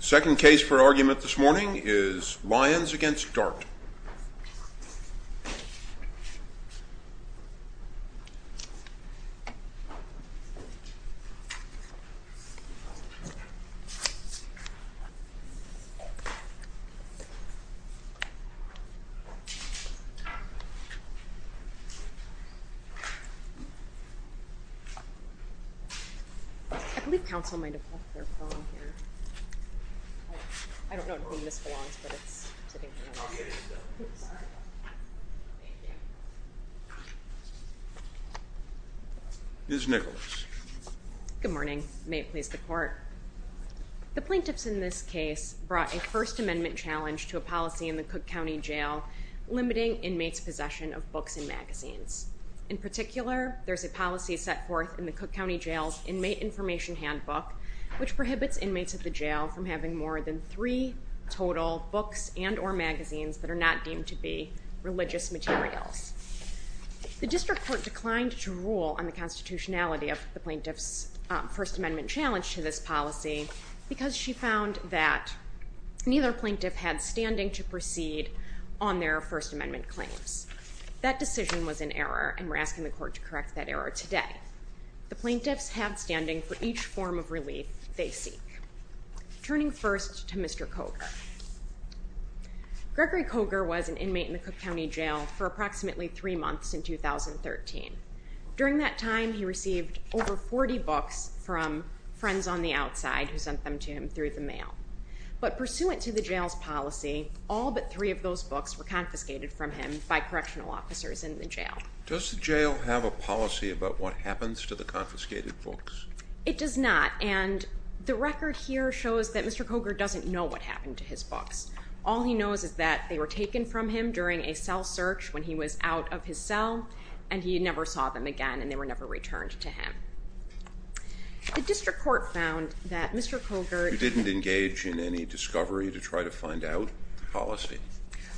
Second case for argument this morning is Lyons v. Dart The plaintiffs in this case brought a First Amendment challenge to a policy in the Cook County Jail limiting inmates' possession of books and magazines. In particular, there's a policy set forth in the Cook County Jail's Inmate Information Handbook which prohibits inmates at the jail from having more than three total books and or magazines that are not deemed to be religious materials. The District Court declined to rule on the constitutionality of the plaintiff's First Amendment challenge to this policy because she found that neither plaintiff had standing to proceed on their First Amendment claims. That decision was an error and we're asking the court to correct that error today. The plaintiffs have standing for each form of relief they seek. Turning first to Mr. Coger. Gregory Coger was an inmate in the Cook County Jail for approximately three months in 2013. During that time, he received over 40 books from friends on the outside who sent them to him through the mail. But pursuant to the jail's policy, all but three of those books were confiscated from him by correctional officers in the jail. Does the jail have a policy about what happens to the confiscated books? It does not. And the record here shows that Mr. Coger doesn't know what happened to his books. All he knows is that they were taken from him during a cell search when he was out of his cell and he never saw them again and they were never returned to him. The District Court found that Mr. Coger... You didn't engage in any discovery to try to find out the policy?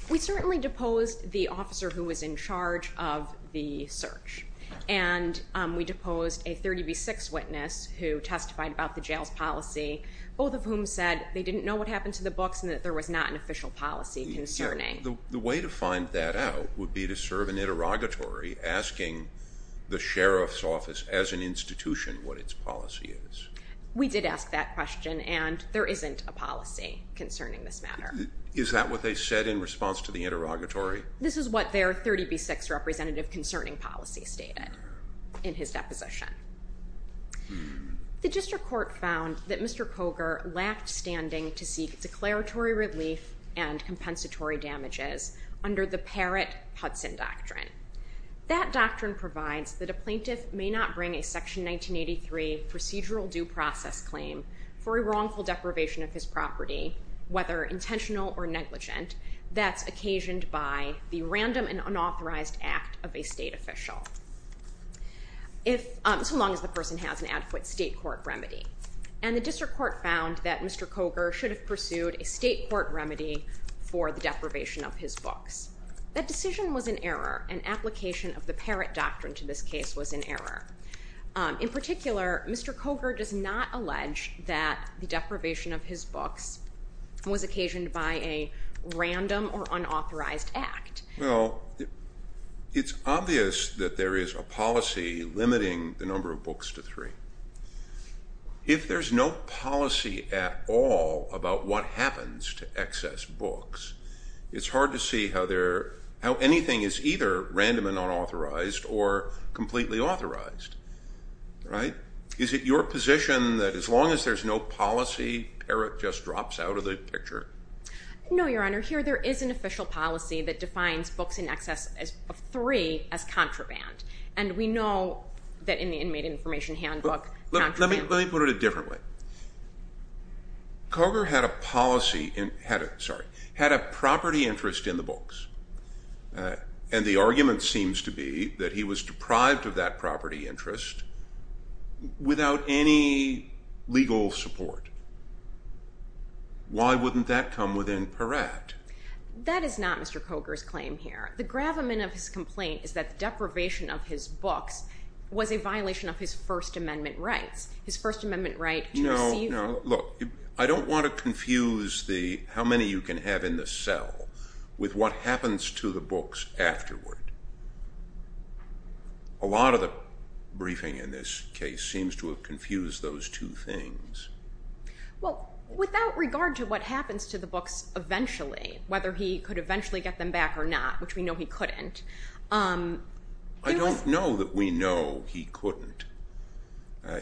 We certainly deposed the officer who was in charge of the search. And we deposed a 30 v. 6 witness who testified about the jail's policy, both of whom said they didn't know what happened to the books and that there was not an official policy concerning... The way to find that out would be to serve an interrogatory asking the Sheriff's Office as an institution what its policy is. We did ask that question and there isn't a policy concerning this matter. Is that what they said in response to the interrogatory? This is what their 30 v. 6 representative concerning policy stated in his deposition. The District Court found that Mr. Coger lacked standing to seek declaratory relief and compensatory damages under the Parrott-Hudson Doctrine. That doctrine provides that a plaintiff may not bring a Section 1983 procedural due process claim for a wrongful deprivation of his property, whether intentional or negligent, that's occasioned by the random and unauthorized act of a state official, so long as the person has an adequate state court remedy. And the District Court found that Mr. Coger should have pursued a state court remedy for the deprivation of his books. That decision was an error. An application of the Parrott Doctrine to this case was an error. In particular, Mr. Coger does not allege that the deprivation of his books was occasioned by a random or unauthorized act. Well, it's obvious that there is a policy limiting the number of books to three. If there's no policy at all about what happens to excess books, it's hard to see how anything is either random and unauthorized or completely authorized, right? Is it your position that as long as there's no policy, Parrott just drops out of the picture? No, Your Honor, here there is an official policy that defines books in excess of three as contraband. And we know that in the Inmate Information Handbook, contraband... Let me put it a different way. Coger had a property interest in the books, and the argument seems to be that he was deprived of that property interest without any legal support. Why wouldn't that come within Parrott? That is not Mr. Coger's claim here. The gravamen of his complaint is that the deprivation of his books was a violation of his First Amendment rights. His First Amendment right to receive them. No, no. Look, I don't want to confuse the how many you can have in the cell with what happens to the books afterward. A lot of the briefing in this case seems to have confused those two things. Well, without regard to what happens to the books eventually, whether he could eventually get them back or not, which we know he couldn't... I don't know that we know he couldn't.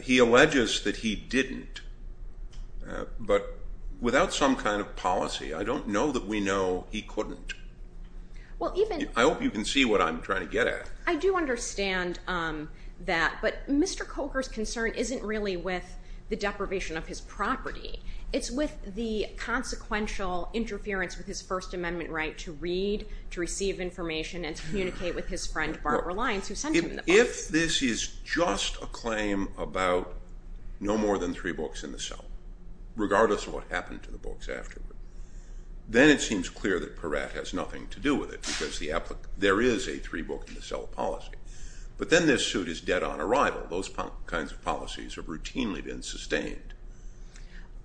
He alleges that he didn't, but without some kind of policy, I don't know that we know he couldn't. Well, even... I hope you can see what I'm trying to get at. I do understand that, but Mr. Coger's concern isn't really with the deprivation of his property. It's with the consequential interference with his First Amendment right to read, to receive information, and to communicate with his friend, Barbara Lyons, who sent him the books. If this is just a claim about no more than three books in the cell, regardless of what happened to the books afterward, then it seems clear that Peratt has nothing to do with it because there is a three-book-in-the-cell policy. But then this suit is dead on arrival. Those kinds of policies have routinely been sustained.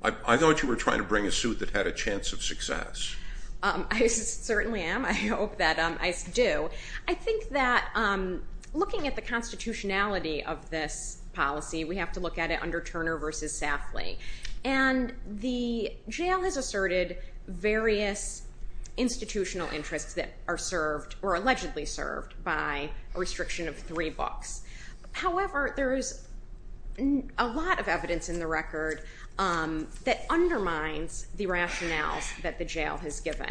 I thought you were trying to bring a suit that had a chance of success. I certainly am. I hope that I do. I think that looking at the constitutionality of this policy, we have to look at it under Turner versus Safley. And the jail has asserted various institutional interests that are served, or allegedly served, by a restriction of three books. However, there is a lot of evidence in the record that undermines the rationales that the jail has given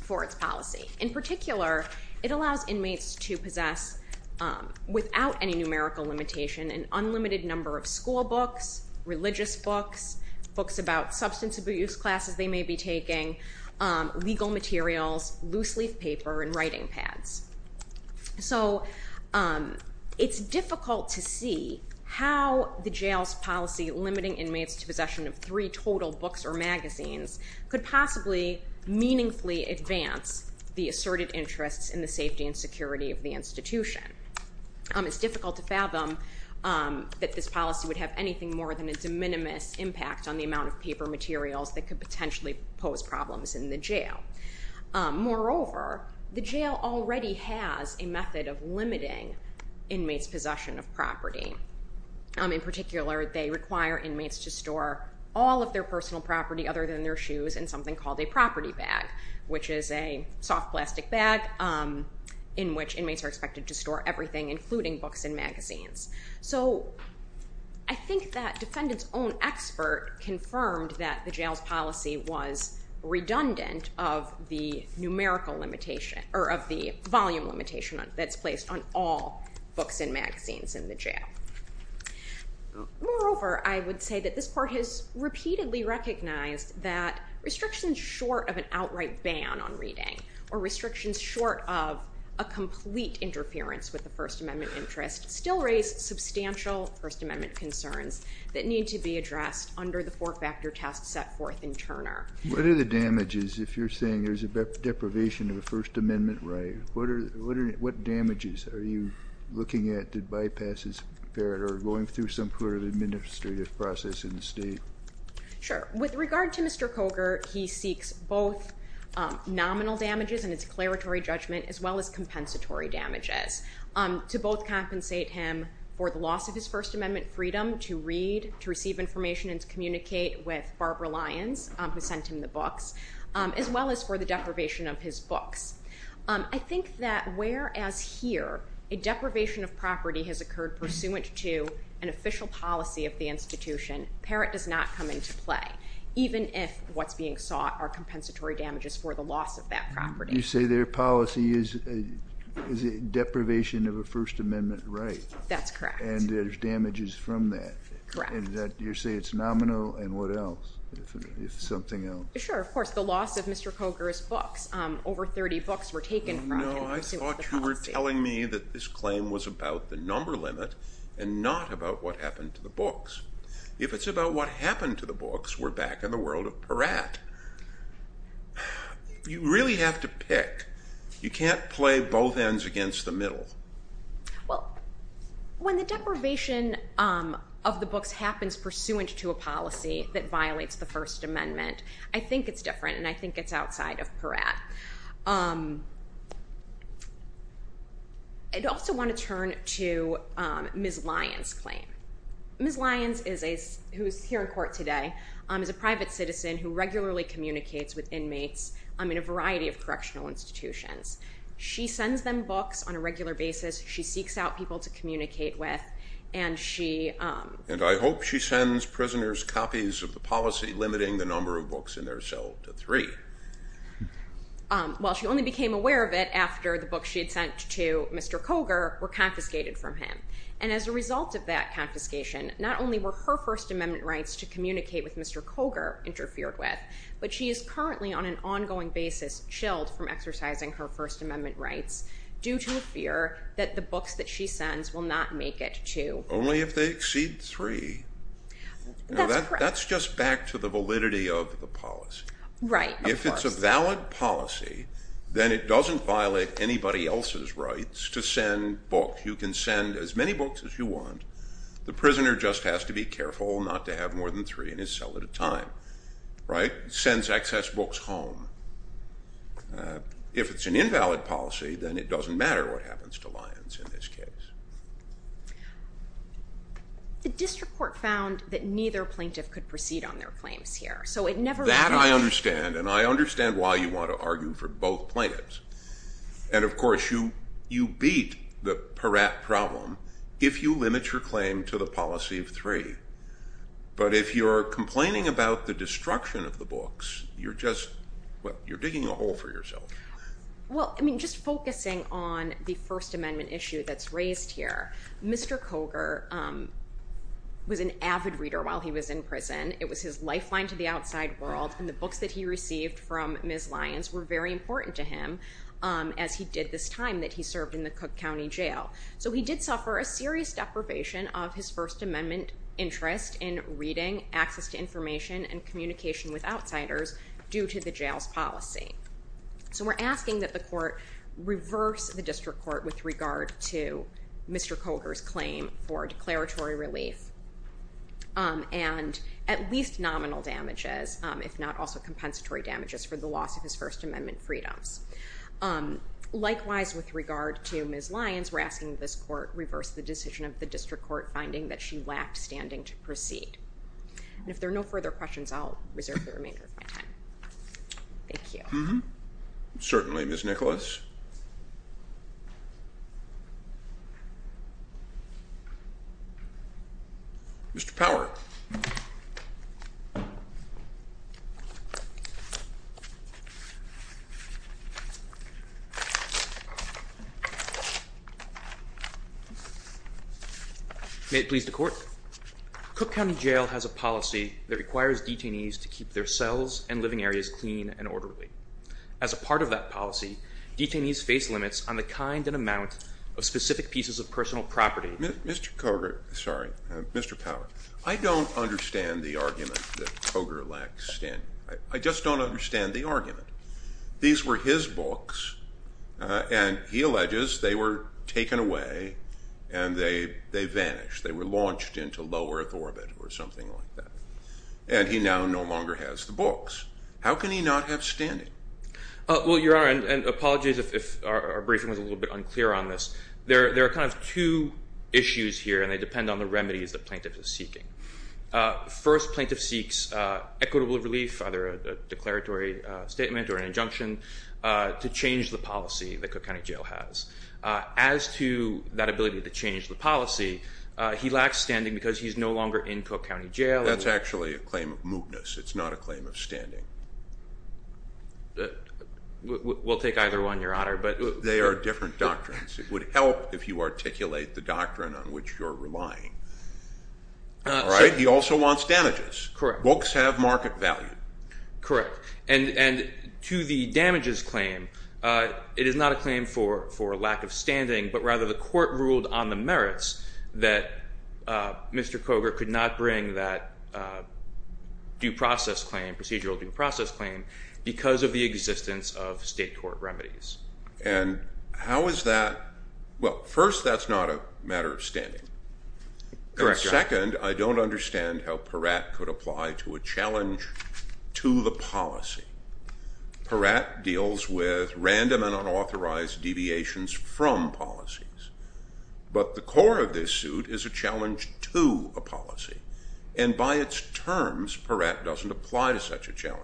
for its policy. In particular, it allows inmates to possess, without any numerical limitation, an unlimited number of school books, religious books, books about substance abuse classes they may be taking, legal materials, loose-leaf paper, and writing pads. So it's difficult to see how the jail's policy limiting inmates to possession of three total books or magazines could possibly meaningfully advance the asserted interests in the safety and security of the institution. It's difficult to fathom that this policy would have anything more than a de minimis impact on the amount of paper materials that could potentially pose problems in the jail. Moreover, the jail already has a method of limiting inmates' possession of property. In particular, they require inmates to store all of their personal property other than their shoes in something called a property bag, which is a soft plastic bag in which inmates are expected to store everything, including books and magazines. So I think that defendant's own expert confirmed that the jail's policy was redundant of the numerical limitation, or of the volume limitation that's placed on all books and magazines in the jail. Moreover, I would say that this Court has repeatedly recognized that restrictions short of an outright ban on reading, or restrictions short of a complete interference with the First Amendment interest still raise substantial First Amendment concerns that need to be addressed under the four-factor test set forth in Turner. What are the damages, if you're saying there's a deprivation of a First Amendment right, what damages are you looking at that bypasses or are going through some sort of administrative process in the state? Sure. With regard to Mr. Coger, he seeks both nominal damages and a declaratory judgment, as well as compensatory damages to both compensate him for the loss of his First Amendment freedom to read, to receive information, and to communicate with Barbara Lyons, who sent him the books, as well as for the deprivation of his books. I think that where, as here, a deprivation of property has occurred pursuant to an official policy of the institution, Parrott does not come into play, even if what's being sought are compensatory damages for the loss of that property. You say their policy is a deprivation of a First Amendment right. That's correct. And there's damages from that. Correct. And you say it's nominal, and what else, if something else? Sure. And there's, of course, the loss of Mr. Coger's books. Over 30 books were taken from him pursuant to the policy. No, I thought you were telling me that this claim was about the number limit, and not about what happened to the books. If it's about what happened to the books, we're back in the world of Parrott. You really have to pick. You can't play both ends against the middle. Well, when the deprivation of the books happens pursuant to a policy that violates the First Amendment, it's different, and I think it's outside of Parrott. I'd also want to turn to Ms. Lyons' claim. Ms. Lyons, who is here in court today, is a private citizen who regularly communicates with inmates in a variety of correctional institutions. She sends them books on a regular basis. She seeks out people to communicate with, and she... Well, she only became aware of it after the books she had sent to Mr. Coger were confiscated from him. And as a result of that confiscation, not only were her First Amendment rights to communicate with Mr. Coger interfered with, but she is currently, on an ongoing basis, chilled from exercising her First Amendment rights due to a fear that the books that she sends will not make it to... Only if they exceed three. That's correct. That's just back to the validity of the policy. Right, of course. If it's a valid policy, then it doesn't violate anybody else's rights to send books. You can send as many books as you want. The prisoner just has to be careful not to have more than three in his cell at a time. Right? Sends excess books home. If it's an invalid policy, then it doesn't matter what happens to Lyons in this case. The district court found that neither plaintiff could proceed on their claims here. So it never... That I understand. And I understand why you want to argue for both plaintiffs. And of course, you beat the Peratt problem if you limit your claim to the policy of three. But if you're complaining about the destruction of the books, you're just, well, you're digging a hole for yourself. Well, I mean, just focusing on the First Amendment issue that's raised here, Mr. Coger was an avid reader while he was in prison. It was his lifeline to the outside world, and the books that he received from Ms. Lyons were very important to him as he did this time that he served in the Cook County Jail. So he did suffer a serious deprivation of his First Amendment interest in reading, access to information, and communication with outsiders due to the jail's policy. So we're asking that the court reverse the district court with regard to Mr. Coger's claim for declaratory relief and at least nominal damages, if not also compensatory damages for the loss of his First Amendment freedoms. Likewise, with regard to Ms. Lyons, we're asking this court reverse the decision of the district court finding that she lacked standing to proceed. And if there are no further questions, I'll reserve the remainder of my time. Thank you. Mm-hmm. Certainly, Ms. Nicholas. Mr. Power. May it please the court. Cook County Jail has a policy that requires detainees to keep their cells and living areas clean and orderly. As a part of that policy, detainees face limits on the kind and amount of specific pieces of personal property. Mr. Coger, sorry, Mr. Power, I don't understand the argument that Coger lacked standing. I just don't understand the argument. These were his books, and he alleges they were taken away and they vanished. They were launched into low Earth orbit or something like that. And he now no longer has the books. How can he not have standing? Well, Your Honor, and apologies if our briefing was a little bit unclear on this. There are kind of two issues here, and they depend on the remedies the plaintiff is seeking. First plaintiff seeks equitable relief, either a declaratory statement or an injunction, to change the policy that Cook County Jail has. As to that ability to change the policy, he lacks standing because he's no longer in Cook County Jail. That's actually a claim of mootness. It's not a claim of standing. We'll take either one, Your Honor. They are different doctrines. It would help if you articulate the doctrine on which you're relying. He also wants damages. Books have market value. Correct. And to the damages claim, it is not a claim for lack of standing, but rather the court ruled on the merits that Mr. Cogar could not bring that procedural due process claim because of the existence of state court remedies. And how is that? Well, first, that's not a matter of standing. Correct, Your Honor. Second, I don't understand how Peratt could apply to a challenge to the policy. Peratt deals with random and unauthorized deviations from policies. But the core of this suit is a challenge to a policy. And by its terms, Peratt doesn't apply to such a challenge.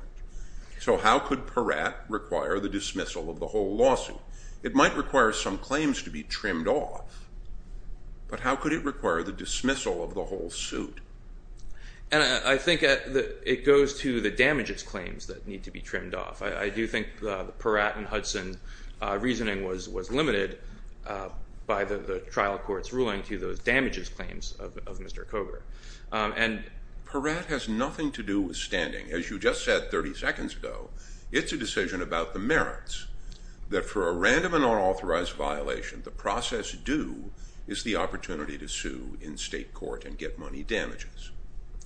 So how could Peratt require the dismissal of the whole lawsuit? It might require some claims to be trimmed off. But how could it require the dismissal of the whole suit? And I think it goes to the damages claims that need to be trimmed off. I do think the Peratt and Hudson reasoning was limited by the trial court's ruling to those damages claims of Mr. Cogar. And Peratt has nothing to do with standing. As you just said 30 seconds ago, it's a decision about the merits that for a random and unauthorized violation, the process due is the opportunity to sue in state court and get money damages.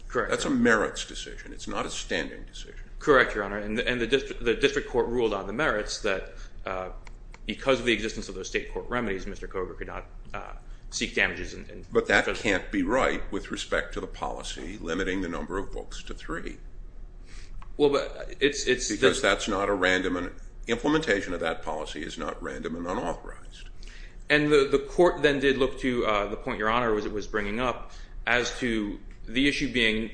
Correct. That's a merits decision. It's not a standing decision. Correct, Your Honor. And the district court ruled on the merits that because of the existence of those state court remedies, Mr. Cogar could not seek damages. But that can't be right with respect to the policy limiting the number of books to three. Because that's not a random and implementation of that policy is not random and unauthorized. And the court then did look to the point Your Honor was bringing up as to the issue being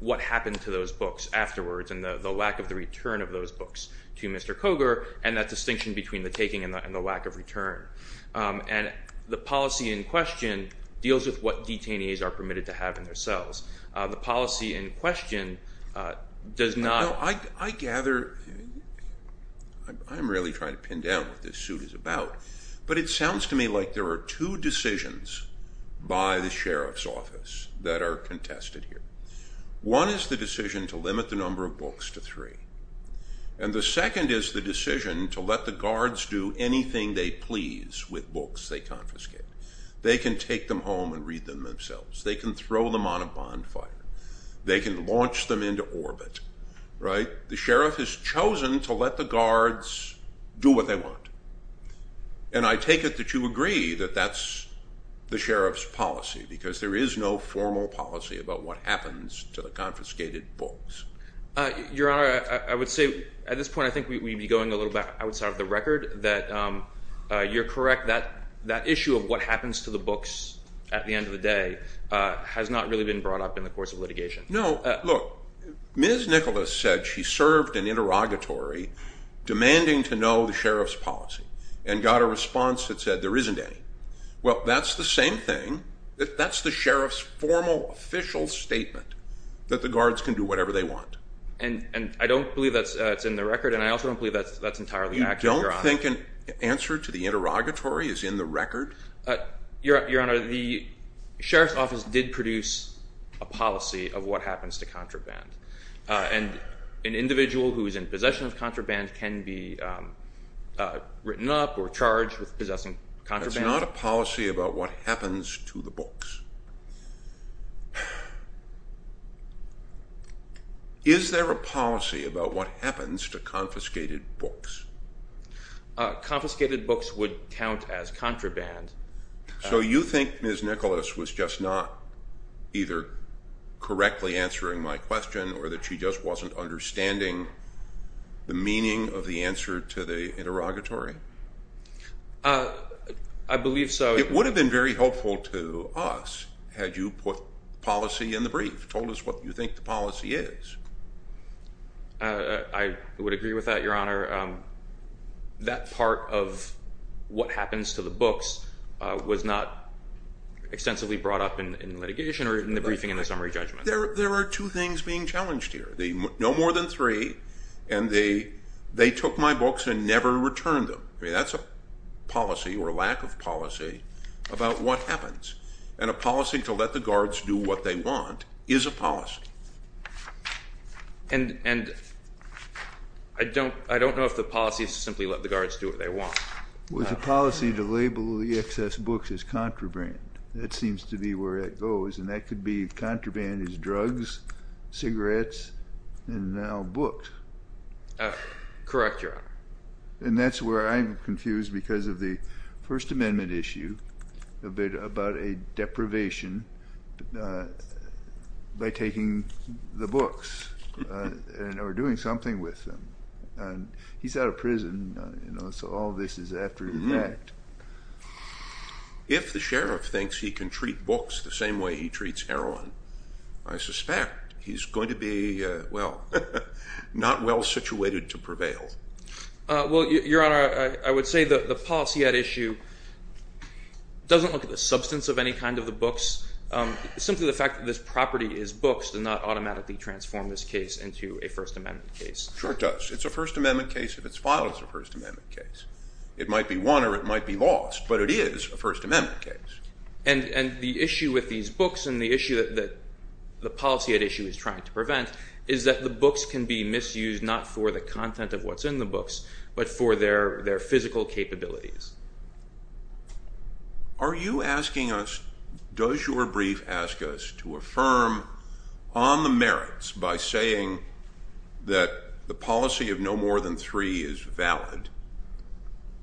what happened to those books afterwards and the lack of the return of those books to Mr. Cogar and that distinction between the taking and the lack of return. And the policy in question deals with what detainees are permitted to have in their cells. The policy in question does not... I gather... I'm really trying to pin down what this suit is about. But it sounds to me like there are two decisions by the sheriff's office that are contested here. One is the decision to limit the number of books to three. And the second is the decision to let the guards do anything they please with books they confiscate. They can take them home and read them themselves. They can throw them on a bonfire. They can launch them into orbit. The sheriff has chosen to let the guards do what they want. And I take it that you agree that that's the sheriff's policy because there is no formal policy about what happens to the confiscated books. Your Honor, I would say at this point I think we'd be going a little bit outside of the record that you're correct. That issue of what happens to the books at the end of the day has not really been brought up in the course of litigation. No. Look. Ms. Nicholas said she served an interrogatory demanding to know the sheriff's policy and got a response that said there isn't any. Well, that's the same thing. That's the sheriff's formal official statement that the guards can do whatever they want. And I don't believe that's in the record and I also don't believe that's entirely accurate, Your Honor. You don't think an answer to the interrogatory is in the record? Your Honor, the sheriff's office did produce a policy of what happens to contraband. And an individual who is in possession of contraband can be written up or charged with possessing contraband. That's not a policy about what happens to the books. Is there a policy about what happens to confiscated books? Confiscated books would count as contraband. So you think Ms. Nicholas was just not either correctly answering my question or that she just wasn't understanding the meaning of the answer to the interrogatory? I believe so. It would have been very helpful to us. Had you put policy in the brief, told us what you think the policy is. I would agree with that, Your Honor. That part of what happens to the books was not extensively brought up in litigation or in the briefing in the summary judgment. There are two things being challenged here. No more than three. And they took my books and never returned them. That's a policy or lack of policy about what happens. And a policy to let the guards do what they want is a policy. And I don't know if the policy is to simply let the guards do what they want. It was a policy to label the excess books as contraband. That seems to be where it goes. And that could be contraband is drugs, cigarettes, and now books. Correct, Your Honor. And that's where I'm confused because of the First Amendment issue about a deprivation by taking the books or doing something with them. He's out of prison, so all this is after the fact. If the sheriff thinks he can treat books the same way he treats heroin, I suspect he's going to be, well, not well situated to prevail. Well, Your Honor, I would say the policy at issue doesn't look at the substance of any kind of the books, simply the fact that this property is books did not automatically transform this case into a First Amendment case. Sure it does. It's a First Amendment case if it's filed as a First Amendment case. It might be won or it might be lost, but it is a First Amendment case. And the issue with these books and the issue that the policy at issue is trying to prevent is that the books can be misused not for the content of what's in the books but for their physical capabilities. Are you asking us, does your brief ask us to affirm on the merits by saying that the policy of no more than three is valid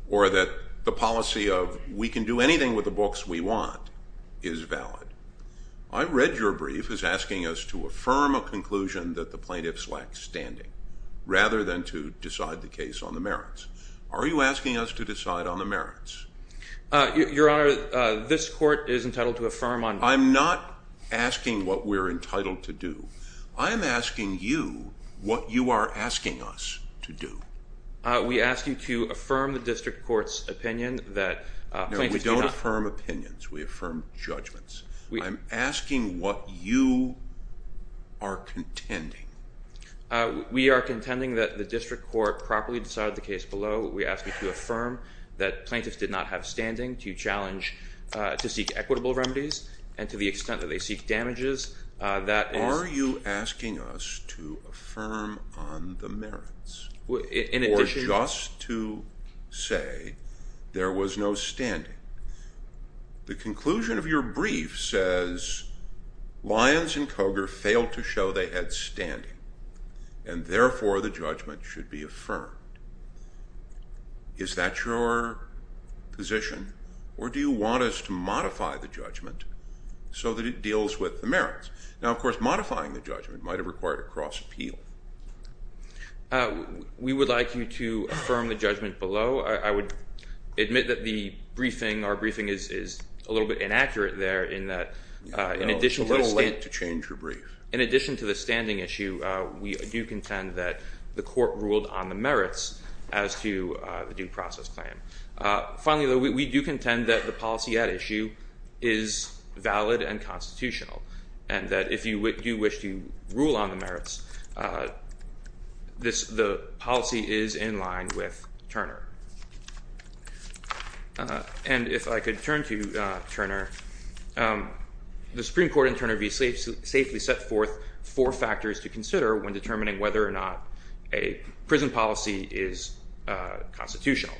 or that the policy of we can do anything with the books we want is valid? I read your brief as asking us to affirm a conclusion that the plaintiffs lack standing rather than to decide the case on the merits. Are you asking us to decide on the merits? Your Honor, this court is entitled to affirm on merits. I'm not asking what we're entitled to do. I'm asking you what you are asking us to do. We ask you to affirm the district court's opinion that plaintiffs do not. No, we don't affirm opinions. We affirm judgments. I'm asking what you are contending. We are contending that the district court properly decided the case below. We ask you to affirm that plaintiffs did not have standing to challenge to seek equitable remedies and to the extent that they seek damages. Are you asking us to affirm on the merits or just to say there was no standing? The conclusion of your brief says Lyons and Koger failed to show they had standing and therefore the judgment should be affirmed. Is that your position? Or do you want us to modify the judgment so that it deals with the merits? Now, of course, modifying the judgment might have required a cross-appeal. We would like you to affirm the judgment below. I would admit that the briefing, our briefing is a little bit inaccurate there in that in addition to the standing issue, we do contend that the court ruled on the merits as to the due process claim. Finally, though, we do contend that the policy at issue is valid and constitutional and that if you do wish to rule on the merits, the policy is in line with Turner. And if I could turn to Turner, the Supreme Court and Turner v. Safely set forth four factors to consider when determining whether or not a prison policy is constitutional.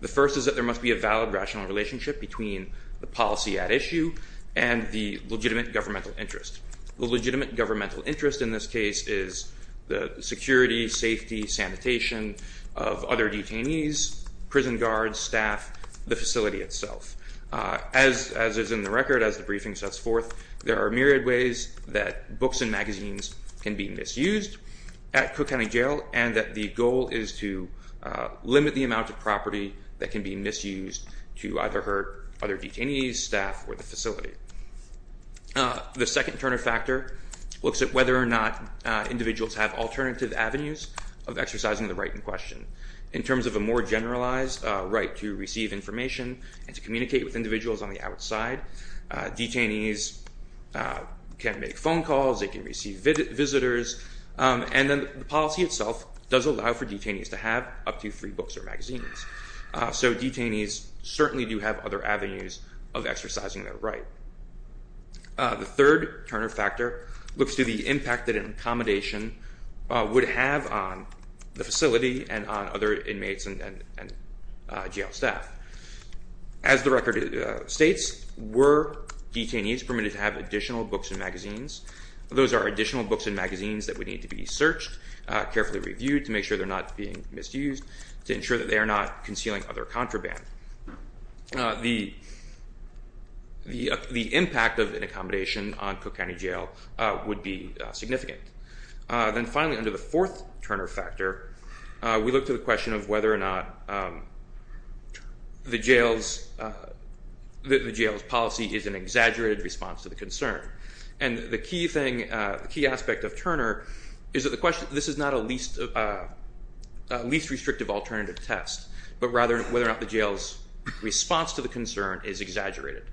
The first is that there must be a valid rational relationship between the policy at issue and the legitimate governmental interest. The legitimate governmental interest in this case is the security, safety, sanitation of other detainees, prison guards, staff, the facility itself. As is in the record as the briefing sets forth, there are myriad ways that books and magazines can be misused at Cook County Jail and that the goal is to limit the amount of property that can be misused to either hurt other detainees, staff, or the facility. The second Turner factor looks at whether or not individuals have alternative avenues of exercising the right in question. In terms of a more generalized right to receive information and to communicate with individuals on the outside, detainees can make phone calls, they can receive visitors, and then the policy itself does allow for detainees to have up to three books or magazines. So detainees certainly do have other avenues of exercising their right. The third Turner factor looks to the impact that an accommodation would have on the facility and on other inmates and jail staff. As the record states, were detainees permitted to have additional books and magazines? Those are additional books and magazines that would need to be searched, carefully reviewed to make sure they're not being misused, to ensure that they are not concealing other contraband. The impact of an accommodation on Cook County Jail would be significant. Then finally, under the fourth Turner factor, we look to the question of whether or not the jail's policy is an exaggerated response to the concern. And the key aspect of Turner is that this is not a least restrictive alternative test, but rather whether or not the jail's response to the concern is exaggerated.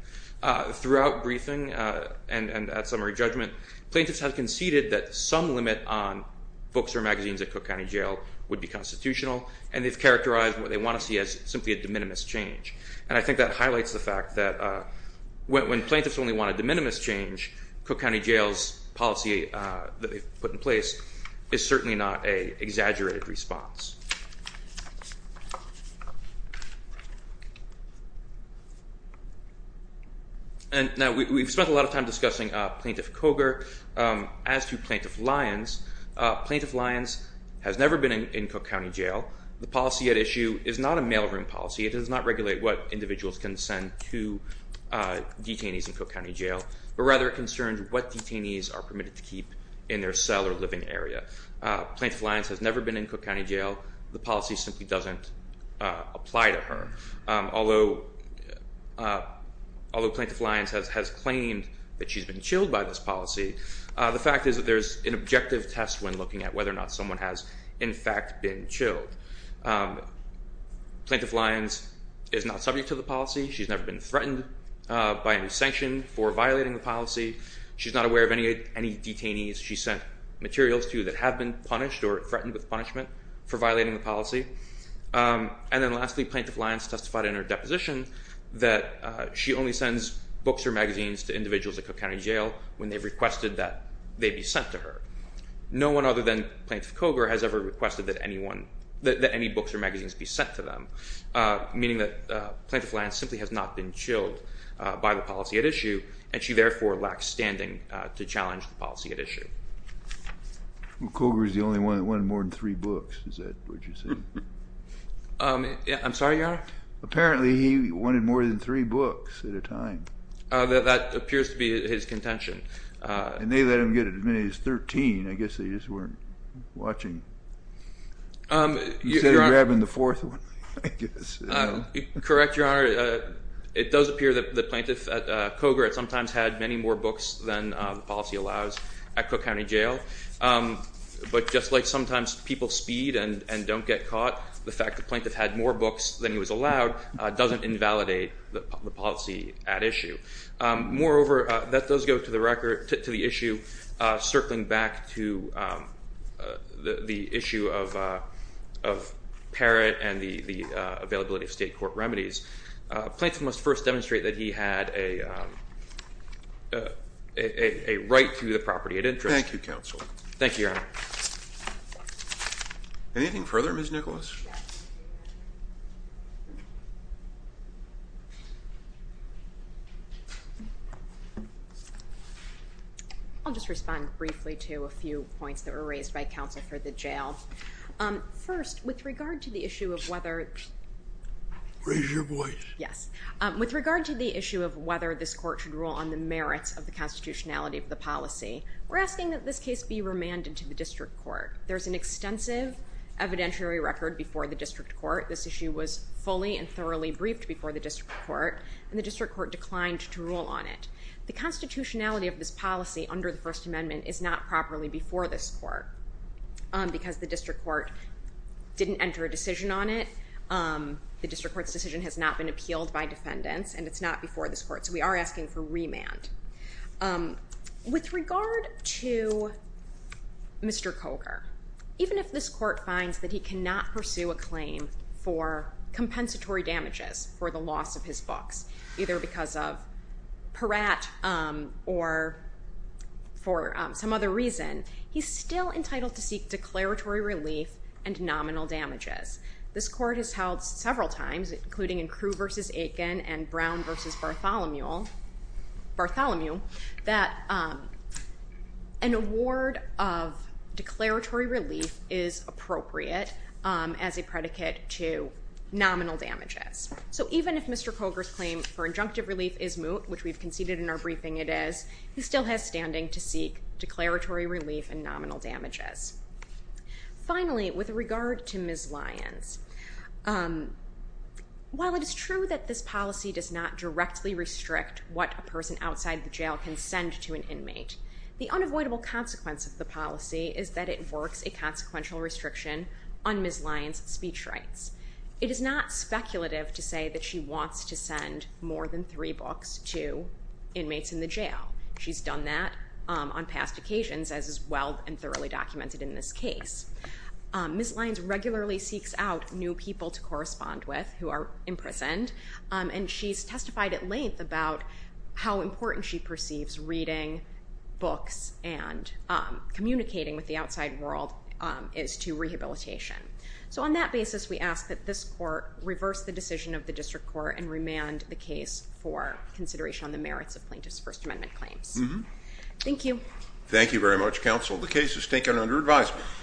Throughout briefing and at summary judgment, plaintiffs have conceded that some limit on books or magazines at Cook County Jail would be constitutional, and they've characterized what they want to see as simply a de minimis change. And I think that highlights the fact that when plaintiffs only want a de minimis change, Cook County Jail's policy that they've put in place is certainly not an exaggerated response. And now we've spent a lot of time discussing Plaintiff Cogar. As to Plaintiff Lyons, Plaintiff Lyons has never been in Cook County Jail. The policy at issue is not a mailroom policy. It does not regulate what individuals can send to detainees in Cook County Jail, but rather it concerns what detainees are permitted to keep in their cell or living area. Plaintiff Lyons has never been in Cook County Jail. The policy simply doesn't apply to her. Although Plaintiff Lyons has claimed that she's been chilled by this policy, the fact is that there's an objective test when looking at whether or not someone has in fact been chilled. Plaintiff Lyons is not subject to the policy. She's never been threatened by any sanction for violating the policy. She's not aware of any detainees she sent materials to that have been punished or threatened with punishment for violating the policy. And then lastly, Plaintiff Lyons testified in her deposition that she only sends books or magazines to individuals at Cook County Jail when they've requested that they be sent to her. No one other than Plaintiff Cogar has ever requested that any books or magazines be sent to them, meaning that Plaintiff Lyons simply has not been chilled by the policy at issue, and she therefore lacks standing to challenge the policy at issue. Well, Cogar's the only one that wanted more than three books. Is that what you're saying? I'm sorry, Your Honor? Apparently he wanted more than three books at a time. That appears to be his contention. And they let him get as many as 13. I guess they just weren't watching. You said you were having the fourth one, I guess. Correct, Your Honor. It does appear that Plaintiff Cogar sometimes had many more books than the policy allows at Cook County Jail. But just like sometimes people speed and don't get caught, the fact that the plaintiff had more books than he was allowed doesn't invalidate the policy at issue. Moreover, that does go to the issue circling back to the issue of Parrott and the availability of state court remedies. Plaintiff must first demonstrate that he had a right to the property of interest. Thank you, Counsel. Thank you, Your Honor. Anything further, Ms. Nicholas? Yes. I'll just respond briefly to a few points that were raised by counsel for the jail. First, with regard to the issue of whether— Raise your voice. Yes. With regard to the issue of whether this court should rule on the merits of the constitutionality of the policy, we're asking that this case be remanded to the district court. There's an extensive evidentiary record before the district court. This issue was fully and thoroughly briefed before the district court, and the district court declined to rule on it. The constitutionality of this policy under the First Amendment is not properly before this court because the district court didn't enter a decision on it. The district court's decision has not been appealed by defendants, and it's not before this court. So we are asking for remand. With regard to Mr. Coker, even if this court finds that he cannot pursue a claim for compensatory damages for the loss of his books, either because of Peratt or for some other reason, he's still entitled to seek declaratory relief and nominal damages. This court has held several times, including in Crew v. Aiken and Brown v. Bartholomew, that an award of declaratory relief is appropriate as a predicate to nominal damages. So even if Mr. Coker's claim for injunctive relief is moot, which we've conceded in our briefing it is, he still has standing to seek declaratory relief and nominal damages. Finally, with regard to Ms. Lyons, while it is true that this policy does not directly restrict what a person outside the jail can send to an inmate, the unavoidable consequence of the policy is that it works a consequential restriction on Ms. Lyons' speech rights. It is not speculative to say that she wants to send more than three books to inmates in the jail. She's done that on past occasions, as is well and thoroughly documented in this case. Ms. Lyons regularly seeks out new people to correspond with who are imprisoned, and she's testified at length about how important she perceives reading books and communicating with the outside world is to rehabilitation. So on that basis, we ask that this court reverse the decision of the District Court and remand the case for consideration on the merits of plaintiff's First Amendment claims. Thank you. Thank you very much, Counsel. The case is taken under advisement.